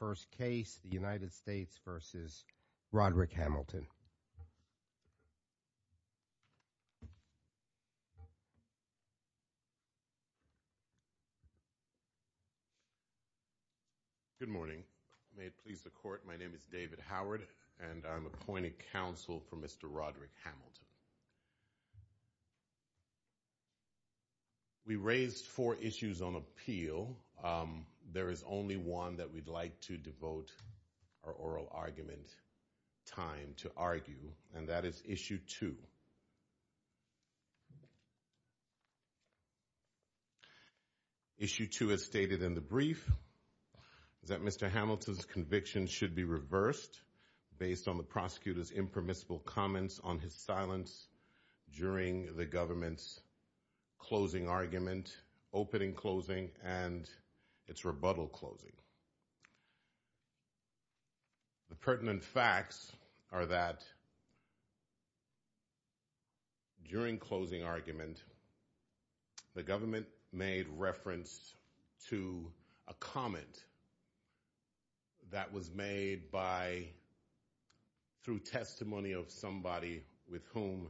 the United States v. Rodrick Hamilton. Good morning. May it please the Court, my name is David Howard, and I'm appointing counsel for Mr. Rodrick Hamilton. We raised four issues on appeal. There is only one that we'd like to devote our oral argument time to argue, and that is issue two. Issue two is stated in the brief that Mr. Hamilton's conviction should be reversed based on the prosecutor's impermissible comments on his silence during the government's closing argument, opening closing, and its rebuttal closing. The pertinent facts are that during closing argument, the government made reference to a comment that was made by, through testimony of somebody with whom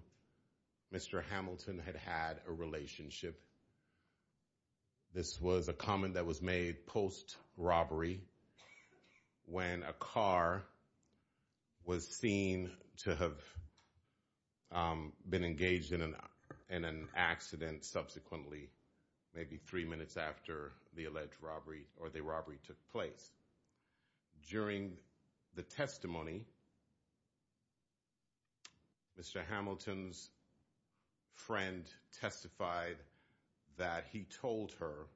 Mr. Hamilton had had a relationship. This was a comment that was made post-robbery when a car was seen to have been engaged in an accident and subsequently, maybe three minutes after the alleged robbery or the robbery took place. During the testimony, Mr. Hamilton's friend testified that he told her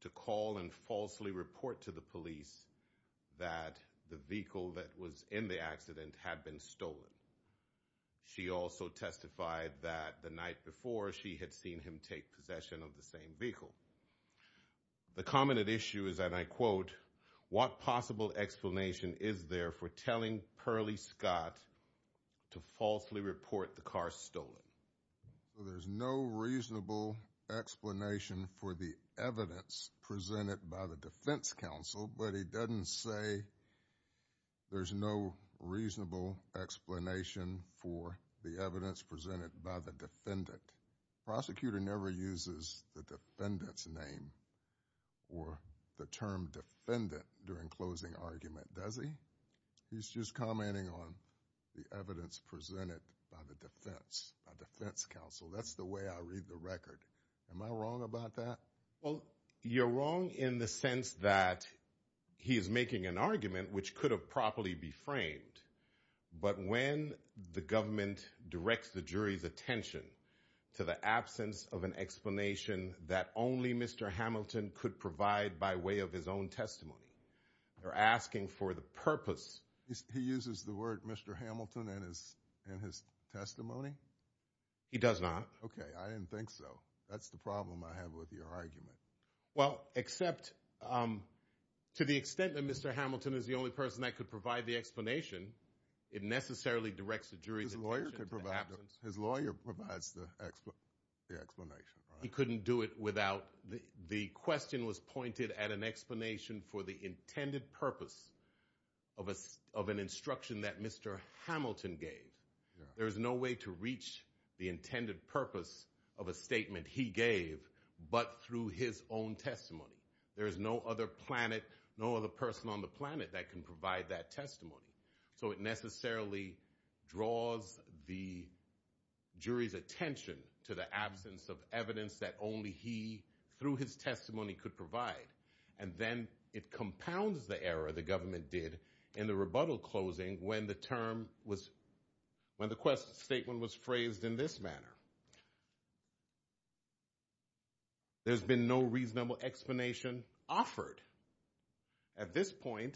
to call and falsely report to the police that the vehicle that was in the accident had been stolen. She also testified that the night before, she had seen him take possession of the same vehicle. The comment at issue is, and I quote, what possible explanation is there for telling Perley Scott to falsely report the car stolen? There's no reasonable explanation for the evidence presented by the Defense Council, but he doesn't say there's no reasonable explanation for the evidence presented by the defendant. The prosecutor never uses the defendant's name or the term defendant during closing argument, does he? He's just commenting on the evidence presented by the defense, by Defense Council. That's the way I read the record. Am I wrong about that? Well, you're wrong in the sense that he is making an argument which could have properly be framed, but when the government directs the jury's attention to the absence of an explanation that only Mr. Hamilton could provide by way of his own testimony, they're asking for the purpose. He uses the word Mr. Hamilton in his testimony? He does not. Okay, I didn't think so. That's the problem I have with your argument. Well, except to the extent that Mr. Hamilton is the only person that could provide the explanation, it necessarily directs the jury's attention to the absence. His lawyer provides the explanation, right? He couldn't do it without the question was pointed at an explanation for the intended purpose of an instruction that Mr. Hamilton gave. There is no way to reach the intended purpose of a statement he gave, but through his own testimony. There is no other person on the planet that can provide that testimony. So it necessarily draws the jury's attention to the absence of evidence that only he, through his testimony, could provide. And then it compounds the error the government did in the rebuttal closing when the statement was phrased in this manner. There's been no reasonable explanation offered. At this point,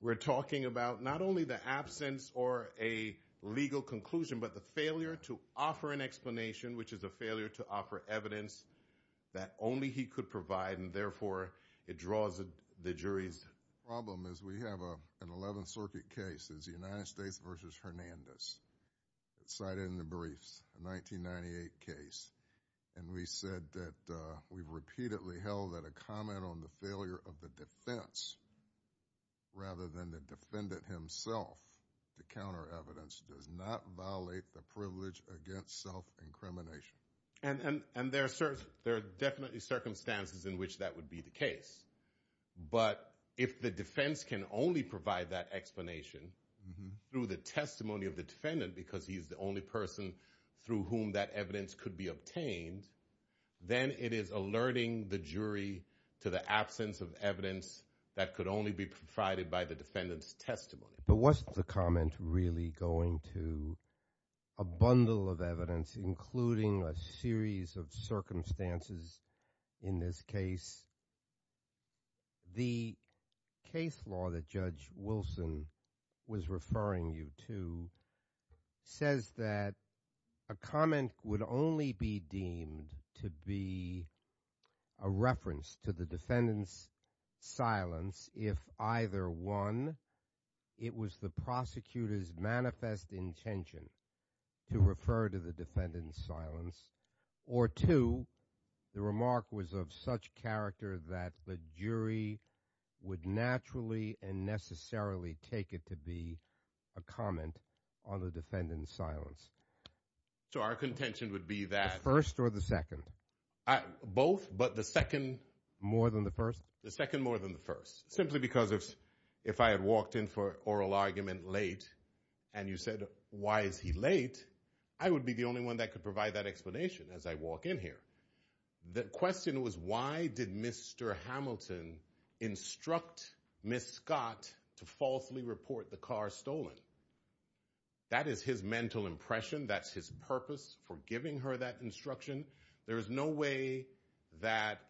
we're talking about not only the absence or a legal conclusion, but the failure to offer an explanation, which is a failure to offer evidence that only he could provide, and therefore it draws the jury's attention. The problem is we have an 11th Circuit case. It's the United States v. Hernandez. It's cited in the briefs. A 1998 case. And we said that we've repeatedly held that a comment on the failure of the defense rather than the defendant himself to counter evidence does not violate the privilege against self-incrimination. And there are definitely circumstances in which that would be the case. But if the defense can only provide that explanation through the testimony of the defendant because he's the only person through whom that evidence could be obtained, then it is alerting the jury to the absence of evidence that could only be provided by the defendant's testimony. But wasn't the comment really going to a bundle of evidence, including a series of circumstances in this case? The case law that Judge Wilson was referring you to says that a comment would only be deemed to be a reference to the defendant's silence if either, one, it was the prosecutor's manifest intention to refer to the defendant's silence, or two, the remark was of such character that the jury would naturally and necessarily take it to be a comment on the defendant's silence. So our contention would be that... The first or the second? Both, but the second more than the first. Simply because if I had walked in for oral argument late and you said, why is he late? I would be the only one that could provide that explanation as I walk in here. The question was, why did Mr. Hamilton instruct Ms. Scott to falsely report the car stolen? That is his mental impression. That's his purpose for giving her that instruction. There's no way that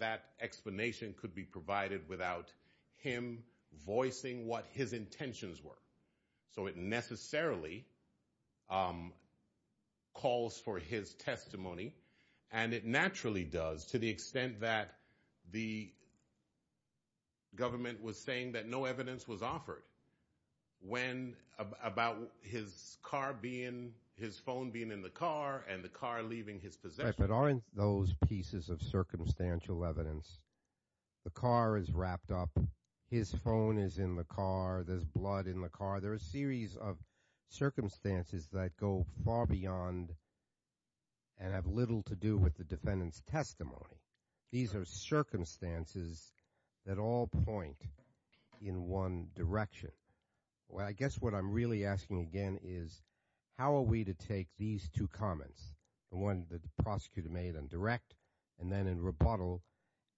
that explanation could be provided without him voicing what his intentions were. So it necessarily calls for his testimony, and it naturally does to the extent that the government was saying that no evidence was offered about his car being, his phone being in the car and the car leaving his possession. Right, but aren't those pieces of circumstantial evidence? The car is wrapped up, his phone is in the car, there's blood in the car. There are a series of circumstances that go far beyond and have little to do with the defendant's testimony. These are circumstances that all point in one direction. Well, I guess what I'm really asking again is how are we to take these two comments, the one that the prosecutor made on direct and then in rebuttal,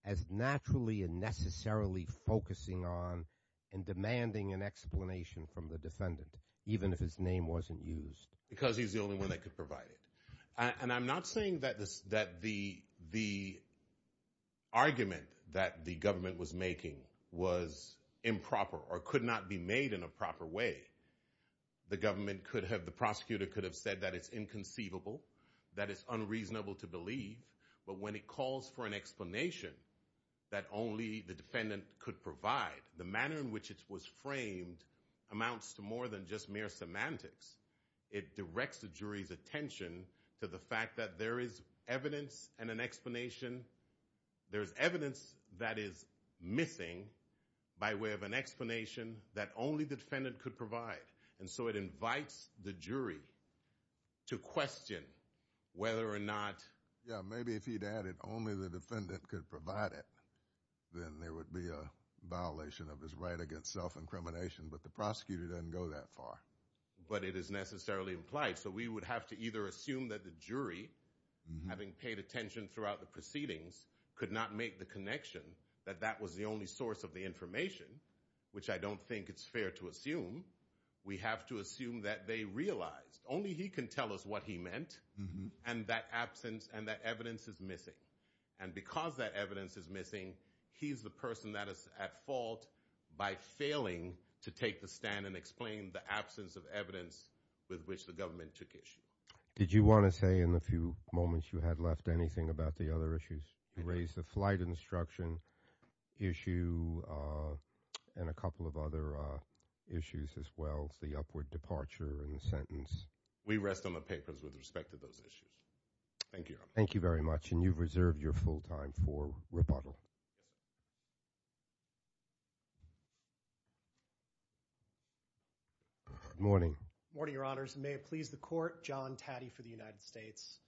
as naturally and necessarily focusing on and demanding an explanation from the defendant, even if his name wasn't used? Because he's the only one that could provide it. And I'm not saying that the argument that the government was making was improper or could not be made in a proper way. The prosecutor could have said that it's inconceivable, that it's unreasonable to believe, but when it calls for an explanation that only the defendant could provide, the manner in which it was framed amounts to more than just mere semantics. It directs the jury's attention to the fact that there is evidence and an explanation, there's evidence that is missing by way of an explanation that only the defendant could provide. And so it invites the jury to question whether or not Yeah, maybe if he'd added only the defendant could provide it, then there would be a violation of his right against self-incrimination, but the prosecutor doesn't go that far. But it is necessarily implied. So we would have to either assume that the jury, having paid attention throughout the proceedings, could not make the connection that that was the only source of the information, which I don't think it's fair to assume, we have to assume that they realized. Only he can tell us what he meant and that evidence is missing. And because that evidence is missing, he's the person that is at fault by failing to take the stand and explain the absence of evidence with which the government took issue. Did you want to say in the few moments you had left anything about the other issues? You raised the flight instruction issue and a couple of other issues as well as the upward departure in the sentence. We rest on the papers with respect to those issues. Good morning. Good morning, Your Honors. May it please the court, John Taddy for the United States.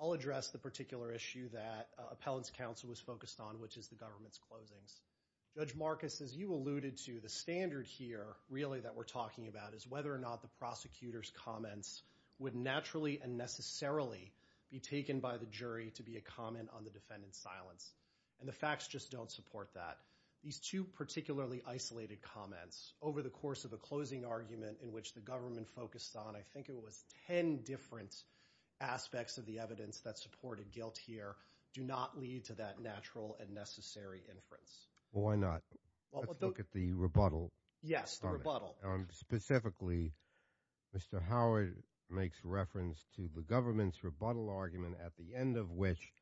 I'll address the particular issue that Appellant's Counsel was focused on, which is the government's closings. Judge Marcus, as you alluded to, the standard here really that we're talking about is whether or not the prosecutor's comments would naturally and necessarily be taken by the jury to be a comment on the defendant's silence. And the facts just don't support that. These two particularly isolated comments over the course of a closing argument in which the government focused on, I think it was ten different aspects of the evidence that supported guilt here, do not lead to that natural and necessary inference. Well, why not? Let's look at the rebuttal. Yes, the rebuttal. Specifically, Mr. Howard makes reference to the government's rebuttal argument at the end of which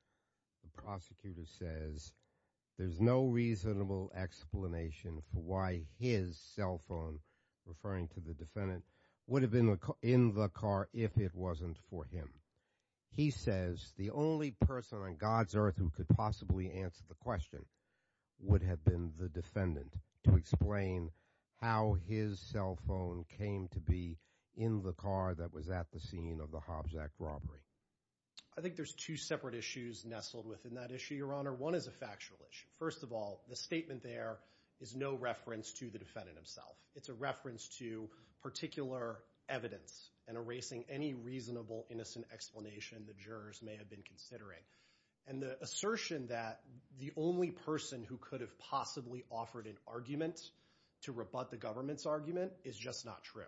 the prosecutor says there's no reasonable explanation for why his cell phone, referring to the defendant, would have been in the car if it wasn't for him. He says the only person on God's earth who could possibly answer the question would have been the defendant to explain how his cell phone came to be in the car that was at the scene of the Hobbs Act robbery. I think there's two separate issues nestled within that issue, Your Honor. One is a factual issue. First of all, the statement there is no reference to the defendant himself. It's a reference to particular evidence and erasing any reasonable innocent explanation the jurors may have been considering. The defense counsel's argument to rebut the government's argument is just not true.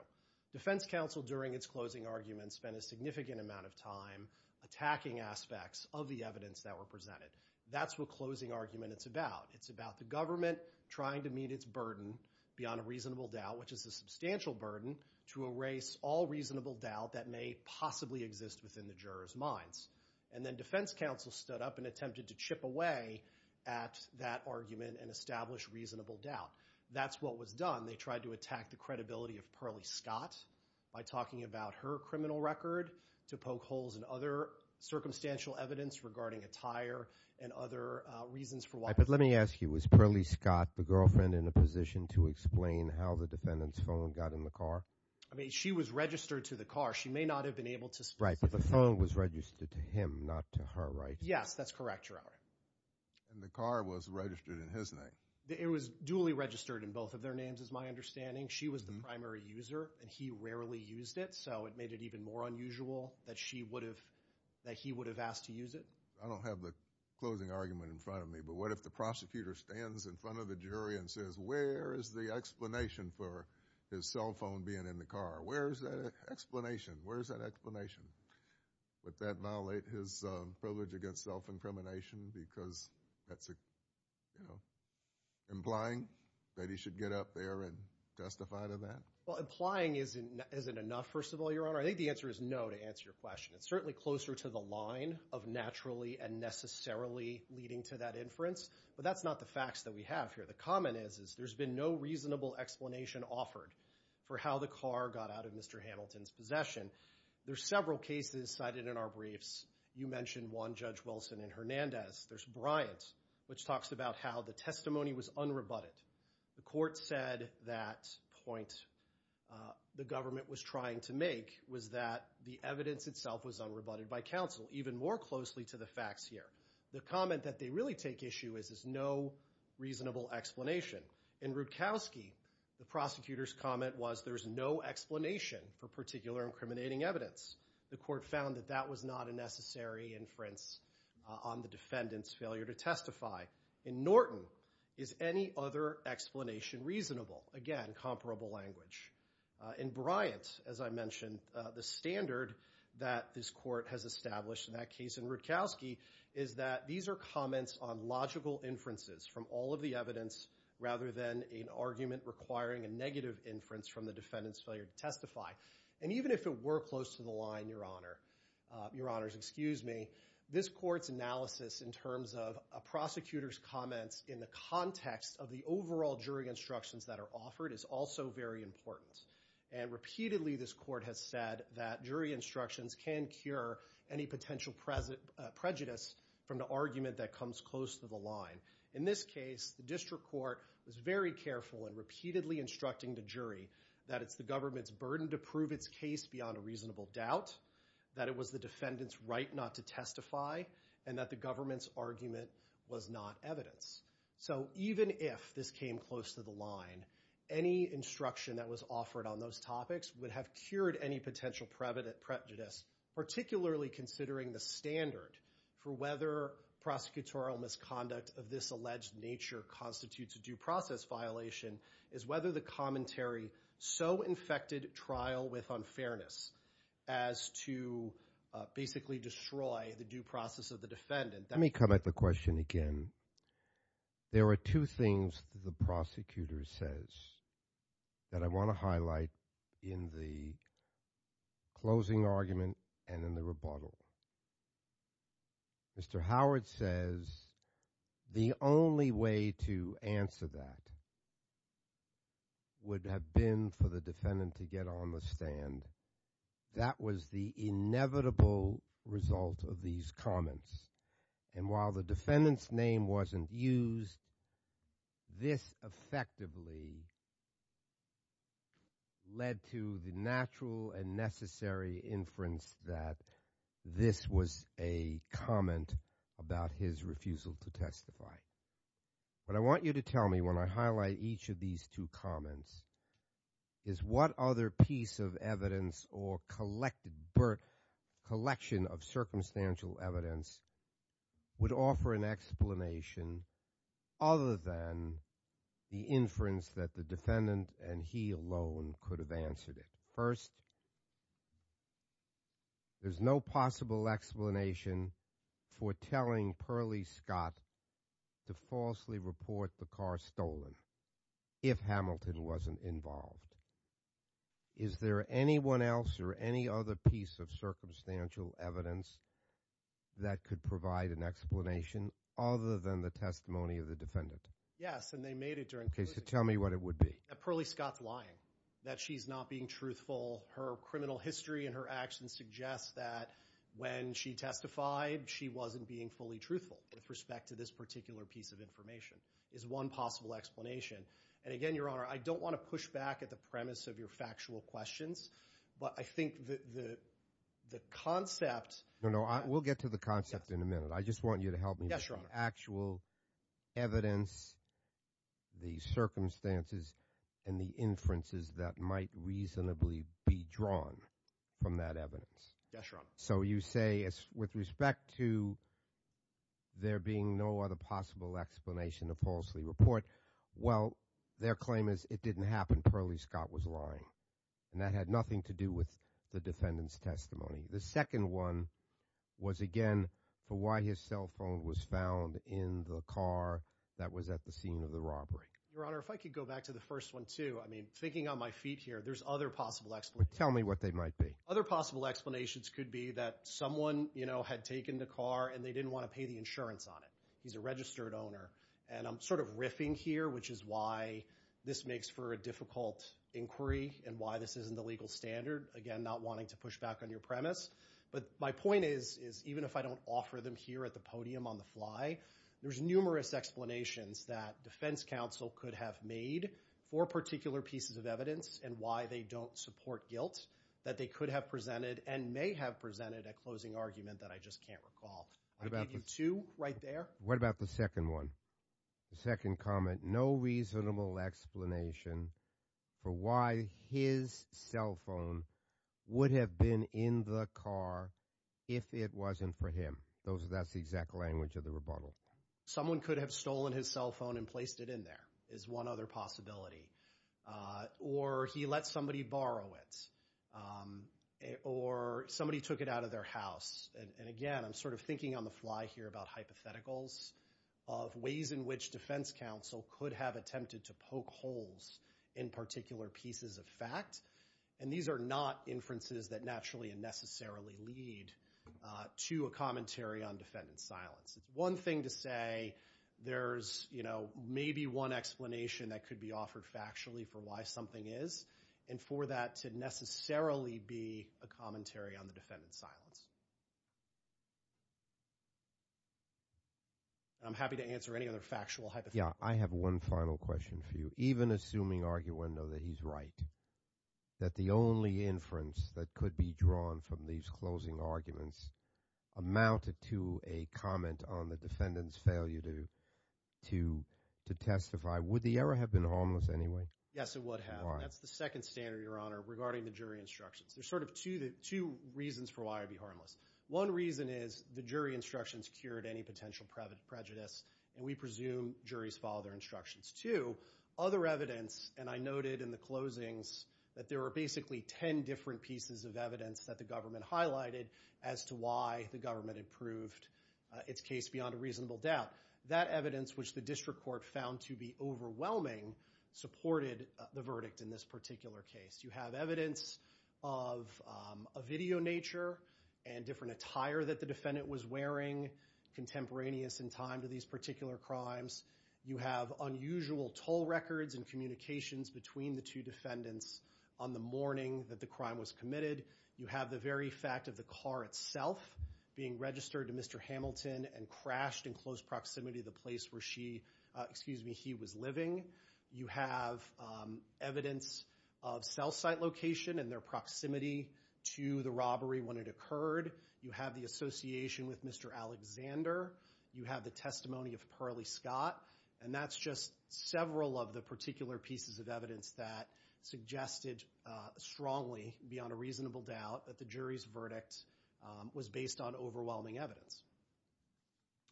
Defense counsel, during its closing argument, spent a significant amount of time attacking aspects of the evidence that were presented. That's what closing argument is about. It's about the government trying to meet its burden beyond a reasonable doubt, which is a substantial burden, to erase all reasonable doubt that may possibly exist within the jurors' minds. And then defense counsel stood up and attempted to chip away at that argument and establish reasonable doubt. That's what was done. They tried to attack the credibility of Pearlie Scott by talking about her criminal record to poke holes in other circumstantial evidence regarding a tire and other reasons for why. But let me ask you, was Pearlie Scott the girlfriend in a position to explain how the defendant's phone got in the car? I mean, she was registered to the car. She may not have been able to specify. Right, but the phone was registered to him, not to her, right? Yes, that's correct, Your Honor. And the car was registered in his name? It was duly registered in both of their names is my understanding. She was the primary user, and he rarely used it, so it made it even more unusual that she would have, that he would have asked to use it. I don't have the closing argument in front of me, but what if the prosecutor stands in front of the jury and says, where is the explanation for his cell phone being in the car? Where is that explanation? Would that violate his privilege against self-incrimination because that's, you know, implying that he should get up there and testify to that? Well, implying isn't enough, first of all, Your Honor. I think the answer is no to answer your question. It's certainly closer to the line of naturally and necessarily leading to that inference, but that's not the facts that we have here. The comment is, is there's been no reasonable explanation offered for how the car got out of Mr. Hamilton's possession. There's several cases cited in our briefs. You mentioned one, Judge Wilson and Hernandez. There's Bryant, which talks about how the testimony was unrebutted. The court said that point the government was trying to make was that the evidence itself was unrebutted by counsel, even more closely to the facts here. The comment that they really take issue with is no reasonable explanation. In Rutkowski, the prosecutor's comment was there's no explanation for particular incriminating evidence. The court found that that was not a necessary inference on the defendant's failure to testify. In Norton, is any other explanation reasonable? Again, comparable language. In Bryant, as I mentioned, the standard that this court has established in that case in Rutkowski is that these are comments on logical inferences from all of the evidence rather than an argument requiring a negative inference from the defendant's failure to testify. Even if it were close to the line, Your Honors, this court's analysis in terms of a prosecutor's comments in the context of the overall jury instructions that are offered is also very important. Repeatedly, this court has said that jury instructions can cure any potential prejudice from the argument that comes close to the line. In this case, the district court was very careful in repeatedly instructing the jury that it's the government's burden to prove its case beyond a reasonable doubt, that it was the defendant's right not to testify, and that the government's argument was not evidence. So even if this came close to the line, any instruction that was offered on those topics would have cured any potential prejudice, particularly considering the standard for whether prosecutorial misconduct of this alleged nature constitutes a due process violation is whether the commentary so infected trial with unfairness as to basically destroy the due process of the defendant. Let me come at the question again. And while the defendant's name wasn't used, this effectively led to the natural and necessary inference that this was a comment about his refusal to testify. What I want you to tell me when I highlight each of these two comments is what other piece of evidence or collection of circumstantial evidence could have been used to justify his refusal to testify. Would offer an explanation other than the inference that the defendant and he alone could have answered it. First, there's no possible explanation for telling Pearlie Scott to falsely report the car stolen if Hamilton wasn't involved. Is there anyone else or any other piece of circumstantial evidence that could provide an explanation? Other than the testimony of the defendant? Yes, and they made it during case to tell me what it would be a pearly Scott lying that she's not being truthful. Her criminal history and her actions suggest that when she testified, she wasn't being fully truthful with respect to this particular piece of information is one possible explanation. And again, Your Honor, I don't want to push back at the premise of your factual questions. But I think that the concept, you know, I will get to the concept in a minute. I just want you to help me actual evidence. The circumstances and the inferences that might reasonably be drawn from that evidence. So you say it's with respect to there being no other possible explanation of falsely report. Well, their claim is it didn't happen. Pearlie Scott was lying, and that had nothing to do with the defendant's testimony. The second one was again for why his cell phone was found in the car that was at the scene of the robbery. Your Honor, if I could go back to the first one, too. I mean, thinking on my feet here, there's other possible. Tell me what they might be other possible explanations could be that someone, you know, had taken the car and they didn't want to pay the insurance on it. He's a registered owner, and I'm sort of riffing here, which is why this makes for a difficult inquiry and why this isn't the legal standard. Again, not wanting to push back on your premise. But my point is, is even if I don't offer them here at the podium on the fly, there's numerous explanations that defense counsel could have made for particular pieces of evidence and why they don't support it. They don't support guilt that they could have presented and may have presented a closing argument that I just can't recall. I gave you two right there. What about the second one? The second comment, no reasonable explanation for why his cell phone would have been in the car if it wasn't for him. That's the exact language of the rebuttal. Someone could have stolen his cell phone and placed it in there is one other possibility. Or he let somebody borrow it. Or somebody took it out of their house. And again, I'm sort of thinking on the fly here about hypotheticals of ways in which defense counsel could have attempted to poke holes in particular pieces of fact. And these are not inferences that naturally and necessarily lead to a commentary on defendant's silence. It's one thing to say there's, you know, maybe one explanation that could be offered factually for why something is. And for that to necessarily be a commentary on the defendant's silence. And I'm happy to answer any other factual hypotheticals. On the defendant's failure to testify, would the error have been harmless anyway? Yes, it would have. That's the second standard, Your Honor, regarding the jury instructions. There's sort of two reasons for why it'd be harmless. One reason is the jury instructions cured any potential prejudice. And we presume juries follow their instructions, too. Other evidence, and I noted in the closings that there were basically ten different pieces of evidence that the government highlighted as to why the government had proved its case beyond a reasonable doubt. That evidence, which the district court found to be overwhelming, supported the verdict in this particular case. You have evidence of a video nature and different attire that the defendant was wearing contemporaneous in time to these cases. These particular crimes. You have unusual toll records and communications between the two defendants on the morning that the crime was committed. You have the very fact of the car itself being registered to Mr. Hamilton and crashed in close proximity to the place where she, excuse me, he was living. You have evidence of cell site location and their proximity to the robbery when it occurred. You have the association with Mr. Alexander. You have the testimony of Pearlie Scott. And that's just several of the particular pieces of evidence that suggested strongly beyond a reasonable doubt that the jury's verdict was based on overwhelming evidence.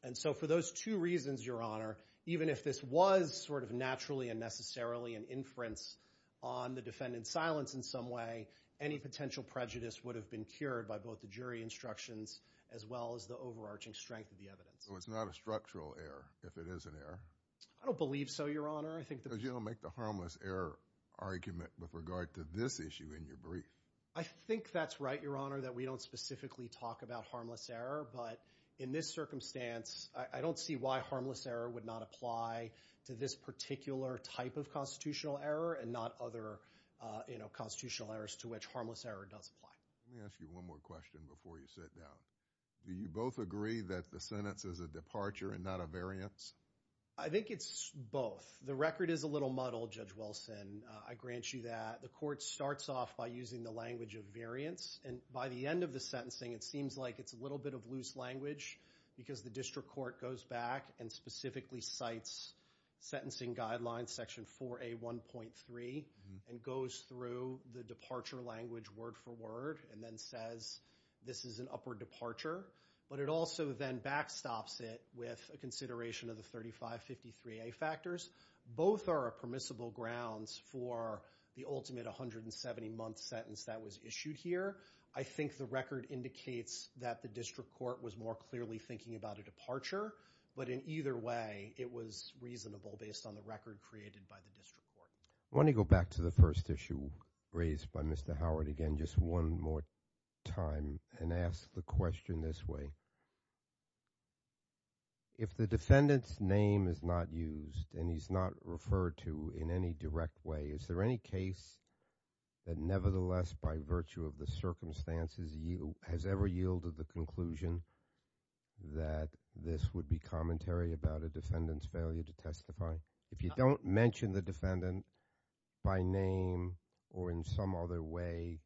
And so for those two reasons, Your Honor, even if this was sort of naturally and necessarily an inference on the defendant's silence in some way, any potential prejudice would have been cured by both the jury instructions as well as the overarching strength of the evidence. So it's not a structural error if it is an error? I don't believe so, Your Honor. Because you don't make the harmless error argument with regard to this issue in your brief. I think that's right, Your Honor, that we don't specifically talk about harmless error. But in this circumstance, I don't see why harmless error would not apply to this particular type of constitutional error and not other constitutional errors to which harmless error does apply. Let me ask you one more question before you sit down. Do you both agree that the sentence is a departure and not a variance? I think it's both. The record is a little muddled, Judge Wilson. I grant you that. The court starts off by using the language of variance, and by the end of the sentencing, it seems like it's a little bit of loose language because the district court goes back and specifically cites sentencing guidelines, Section 4A1.3, and goes through the departure language word for word and then says this is an upward departure. But it also then backstops it with a consideration of the 3553A factors. Both are permissible grounds for the ultimate 170-month sentence that was issued here. I think the record indicates that the district court was more clearly thinking about a departure. But in either way, it was reasonable based on the record created by the district court. I want to go back to the first issue raised by Mr. Howard again just one more time and ask the question this way. If the defendant's name is not used and he's not referred to in any direct way, is there any case that nevertheless by virtue of the circumstances has ever yielded the conclusion that this would be commentary about a defendant's failure to testify? If you don't mention the defendant by name or in some other way,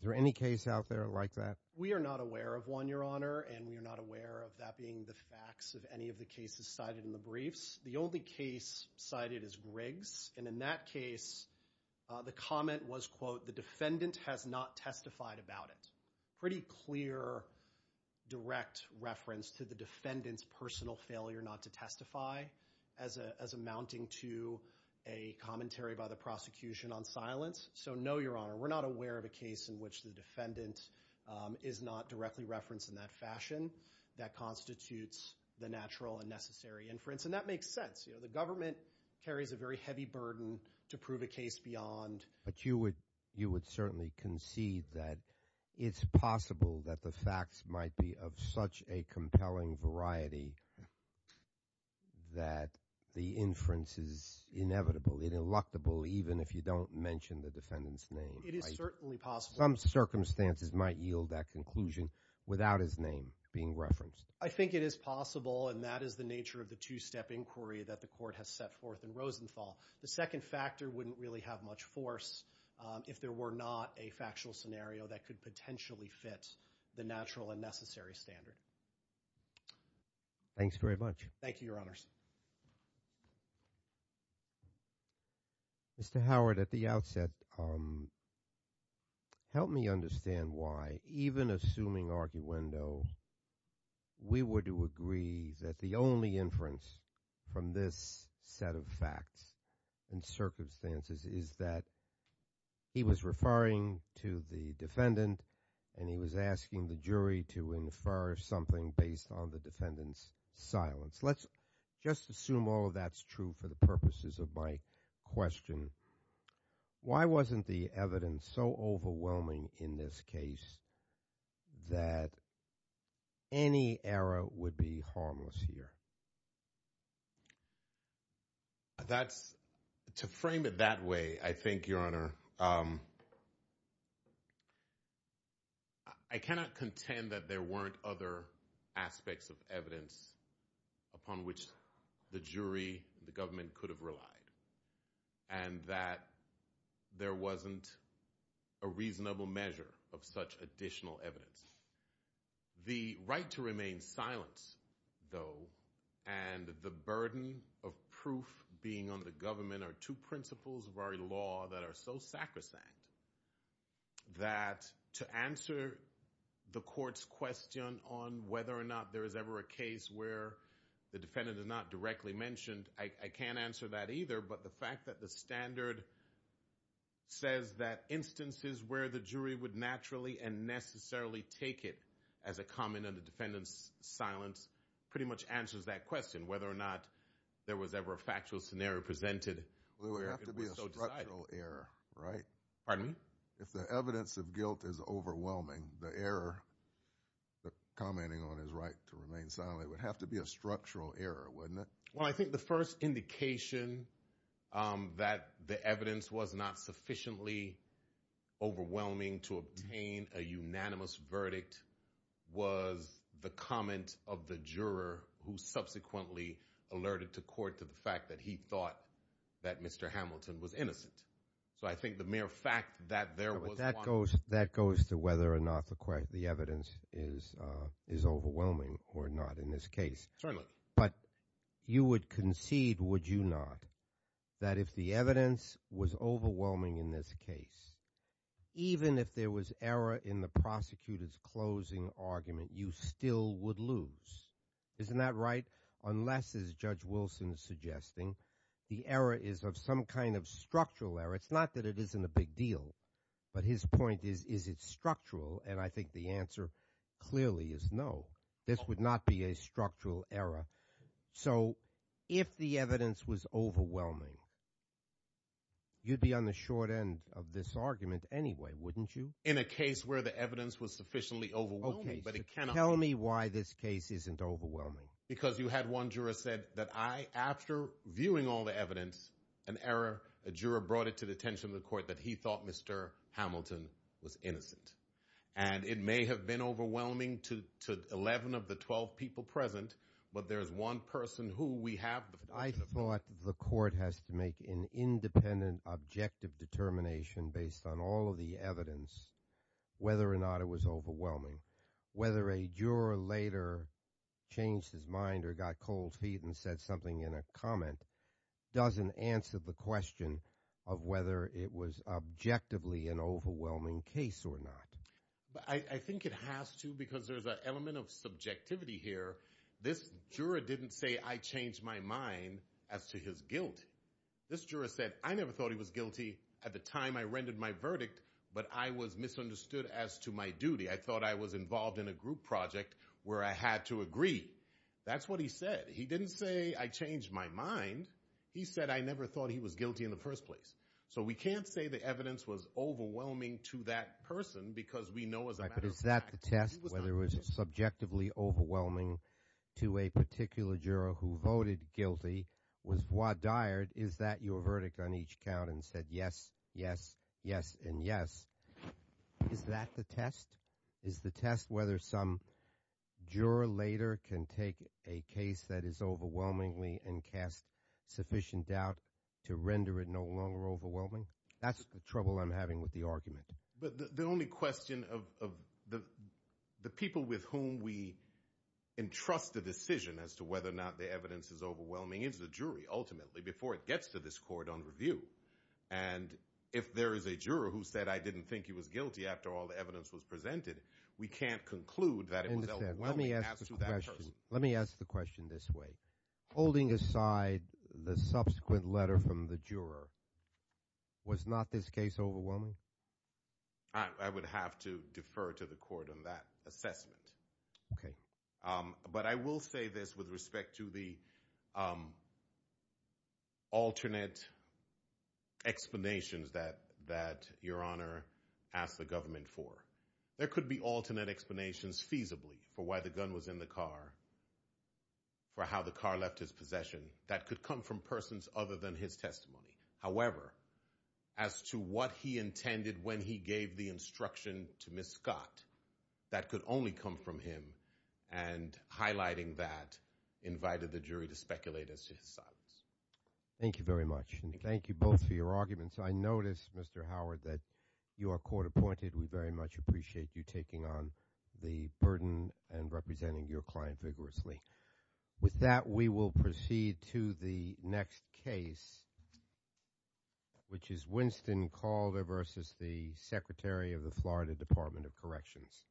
is there any case out there like that? We are not aware of one, Your Honor, and we are not aware of that being the facts of any of the cases cited in the briefs. The only case cited is Griggs, and in that case, the comment was, quote, the defendant has not testified about it. Pretty clear direct reference to the defendant's personal failure not to testify as amounting to a commentary by the prosecution on silence. So no, Your Honor, we're not aware of a case in which the defendant is not directly referenced in that fashion. That constitutes the natural and necessary inference, and that makes sense. The government carries a very heavy burden to prove a case beyond. But you would certainly concede that it's possible that the facts might be of such a compelling variety that the inference is inevitable, ineluctable, even if you don't mention the defendant's name. It is certainly possible. Some circumstances might yield that conclusion without his name being referenced. I think it is possible, and that is the nature of the two-step inquiry that the Court has set forth in Rosenthal. The second factor wouldn't really have much force if there were not a factual scenario that could potentially fit the natural and necessary standard. Thanks very much. Thank you, Your Honors. Mr. Howard, at the outset, help me understand why, even assuming arguendo, we were to agree that the only inference from this set of facts and circumstances is that he was referring to the defendant, and he was asking the jury to infer something based on the defendant's silence. Let's just assume all of that's true for the purposes of my question. Why wasn't the evidence so overwhelming in this case that any error would be harmless here? To frame it that way, I think, Your Honor, I cannot contend that there weren't other aspects of evidence upon which the jury, the government, could have relied, and that there wasn't a reasonable measure of such additional evidence. The right to remain silent, though, and the burden of proof being on the government are two principles of our law that are so sacrosanct that to answer the court's question on whether or not there is ever a case where the defendant is not directly mentioned, I can't answer that either. But the fact that the standard says that instances where the jury would naturally and necessarily take it as a common under defendant's silence pretty much answers that question, whether or not there was ever a factual scenario presented. It would have to be a structural error, right? If the evidence of guilt is overwhelming, the error, the commenting on his right to remain silent, it would have to be a structural error, wouldn't it? Well, I think the first indication that the evidence was not sufficiently overwhelming to obtain a unanimous verdict was the comment of the juror who subsequently alerted to court to the fact that he thought that Mr. Hamilton was innocent. So I think the mere fact that there was one. That goes to whether or not the evidence is overwhelming or not in this case. Certainly. But you would concede, would you not, that if the evidence was overwhelming in this case, even if there was error in the prosecutor's closing argument, you still would lose. Isn't that right? Unless, as Judge Wilson is suggesting, the error is of some kind of structural error. It's not that it isn't a big deal, but his point is, is it structural? And I think the answer clearly is no. This would not be a structural error. So if the evidence was overwhelming, you'd be on the short end of this argument anyway, wouldn't you? In a case where the evidence was sufficiently overwhelming. Tell me why this case isn't overwhelming. Because you had one juror said that after viewing all the evidence, an error, a juror brought it to the attention of the court that he thought Mr. Hamilton was innocent. And it may have been overwhelming to 11 of the 12 people present, but there is one person who we have. I thought the court has to make an independent, objective determination based on all of the evidence whether or not it was overwhelming. Whether a juror later changed his mind or got cold feet and said something in a comment doesn't answer the question of whether it was objectively an overwhelming case or not. I think it has to because there's an element of subjectivity here. This juror didn't say I changed my mind as to his guilt. This juror said I never thought he was guilty at the time I rendered my verdict, but I was misunderstood as to my duty. I thought I was involved in a group project where I had to agree. That's what he said. He didn't say I changed my mind. He said I never thought he was guilty in the first place. So we can't say the evidence was overwhelming to that person because we know as a matter of fact he was not guilty. But is that the test, whether it was subjectively overwhelming to a particular juror who voted guilty, was voir dired, is that your verdict on each count and said yes, yes, yes, and yes? Is that the test? Is the test whether some juror later can take a case that is overwhelmingly and cast sufficient doubt to render it no longer overwhelming? That's the trouble I'm having with the argument. But the only question of the people with whom we entrust a decision as to whether or not the evidence is overwhelming is the jury ultimately before it gets to this court on review. And if there is a juror who said I didn't think he was guilty after all the evidence was presented, we can't conclude that it was overwhelming as to that person. Let me ask the question this way. Holding aside the subsequent letter from the juror, was not this case overwhelming? I would have to defer to the court on that assessment. But I will say this with respect to the alternate explanations that your Honor asked the government for. There could be alternate explanations feasibly for why the gun was in the car, for how the car left his possession. That could come from persons other than his testimony. However, as to what he intended when he gave the instruction to Ms. Scott, that could only come from him. And highlighting that invited the jury to speculate as to his silence. Thank you very much. And thank you both for your arguments. I notice, Mr. Howard, that you are court appointed. We very much appreciate you taking on the burden and representing your client vigorously. With that, we will proceed to the next case, which is Winston Calder versus the Secretary of the Florida Department of Corrections. Thank you.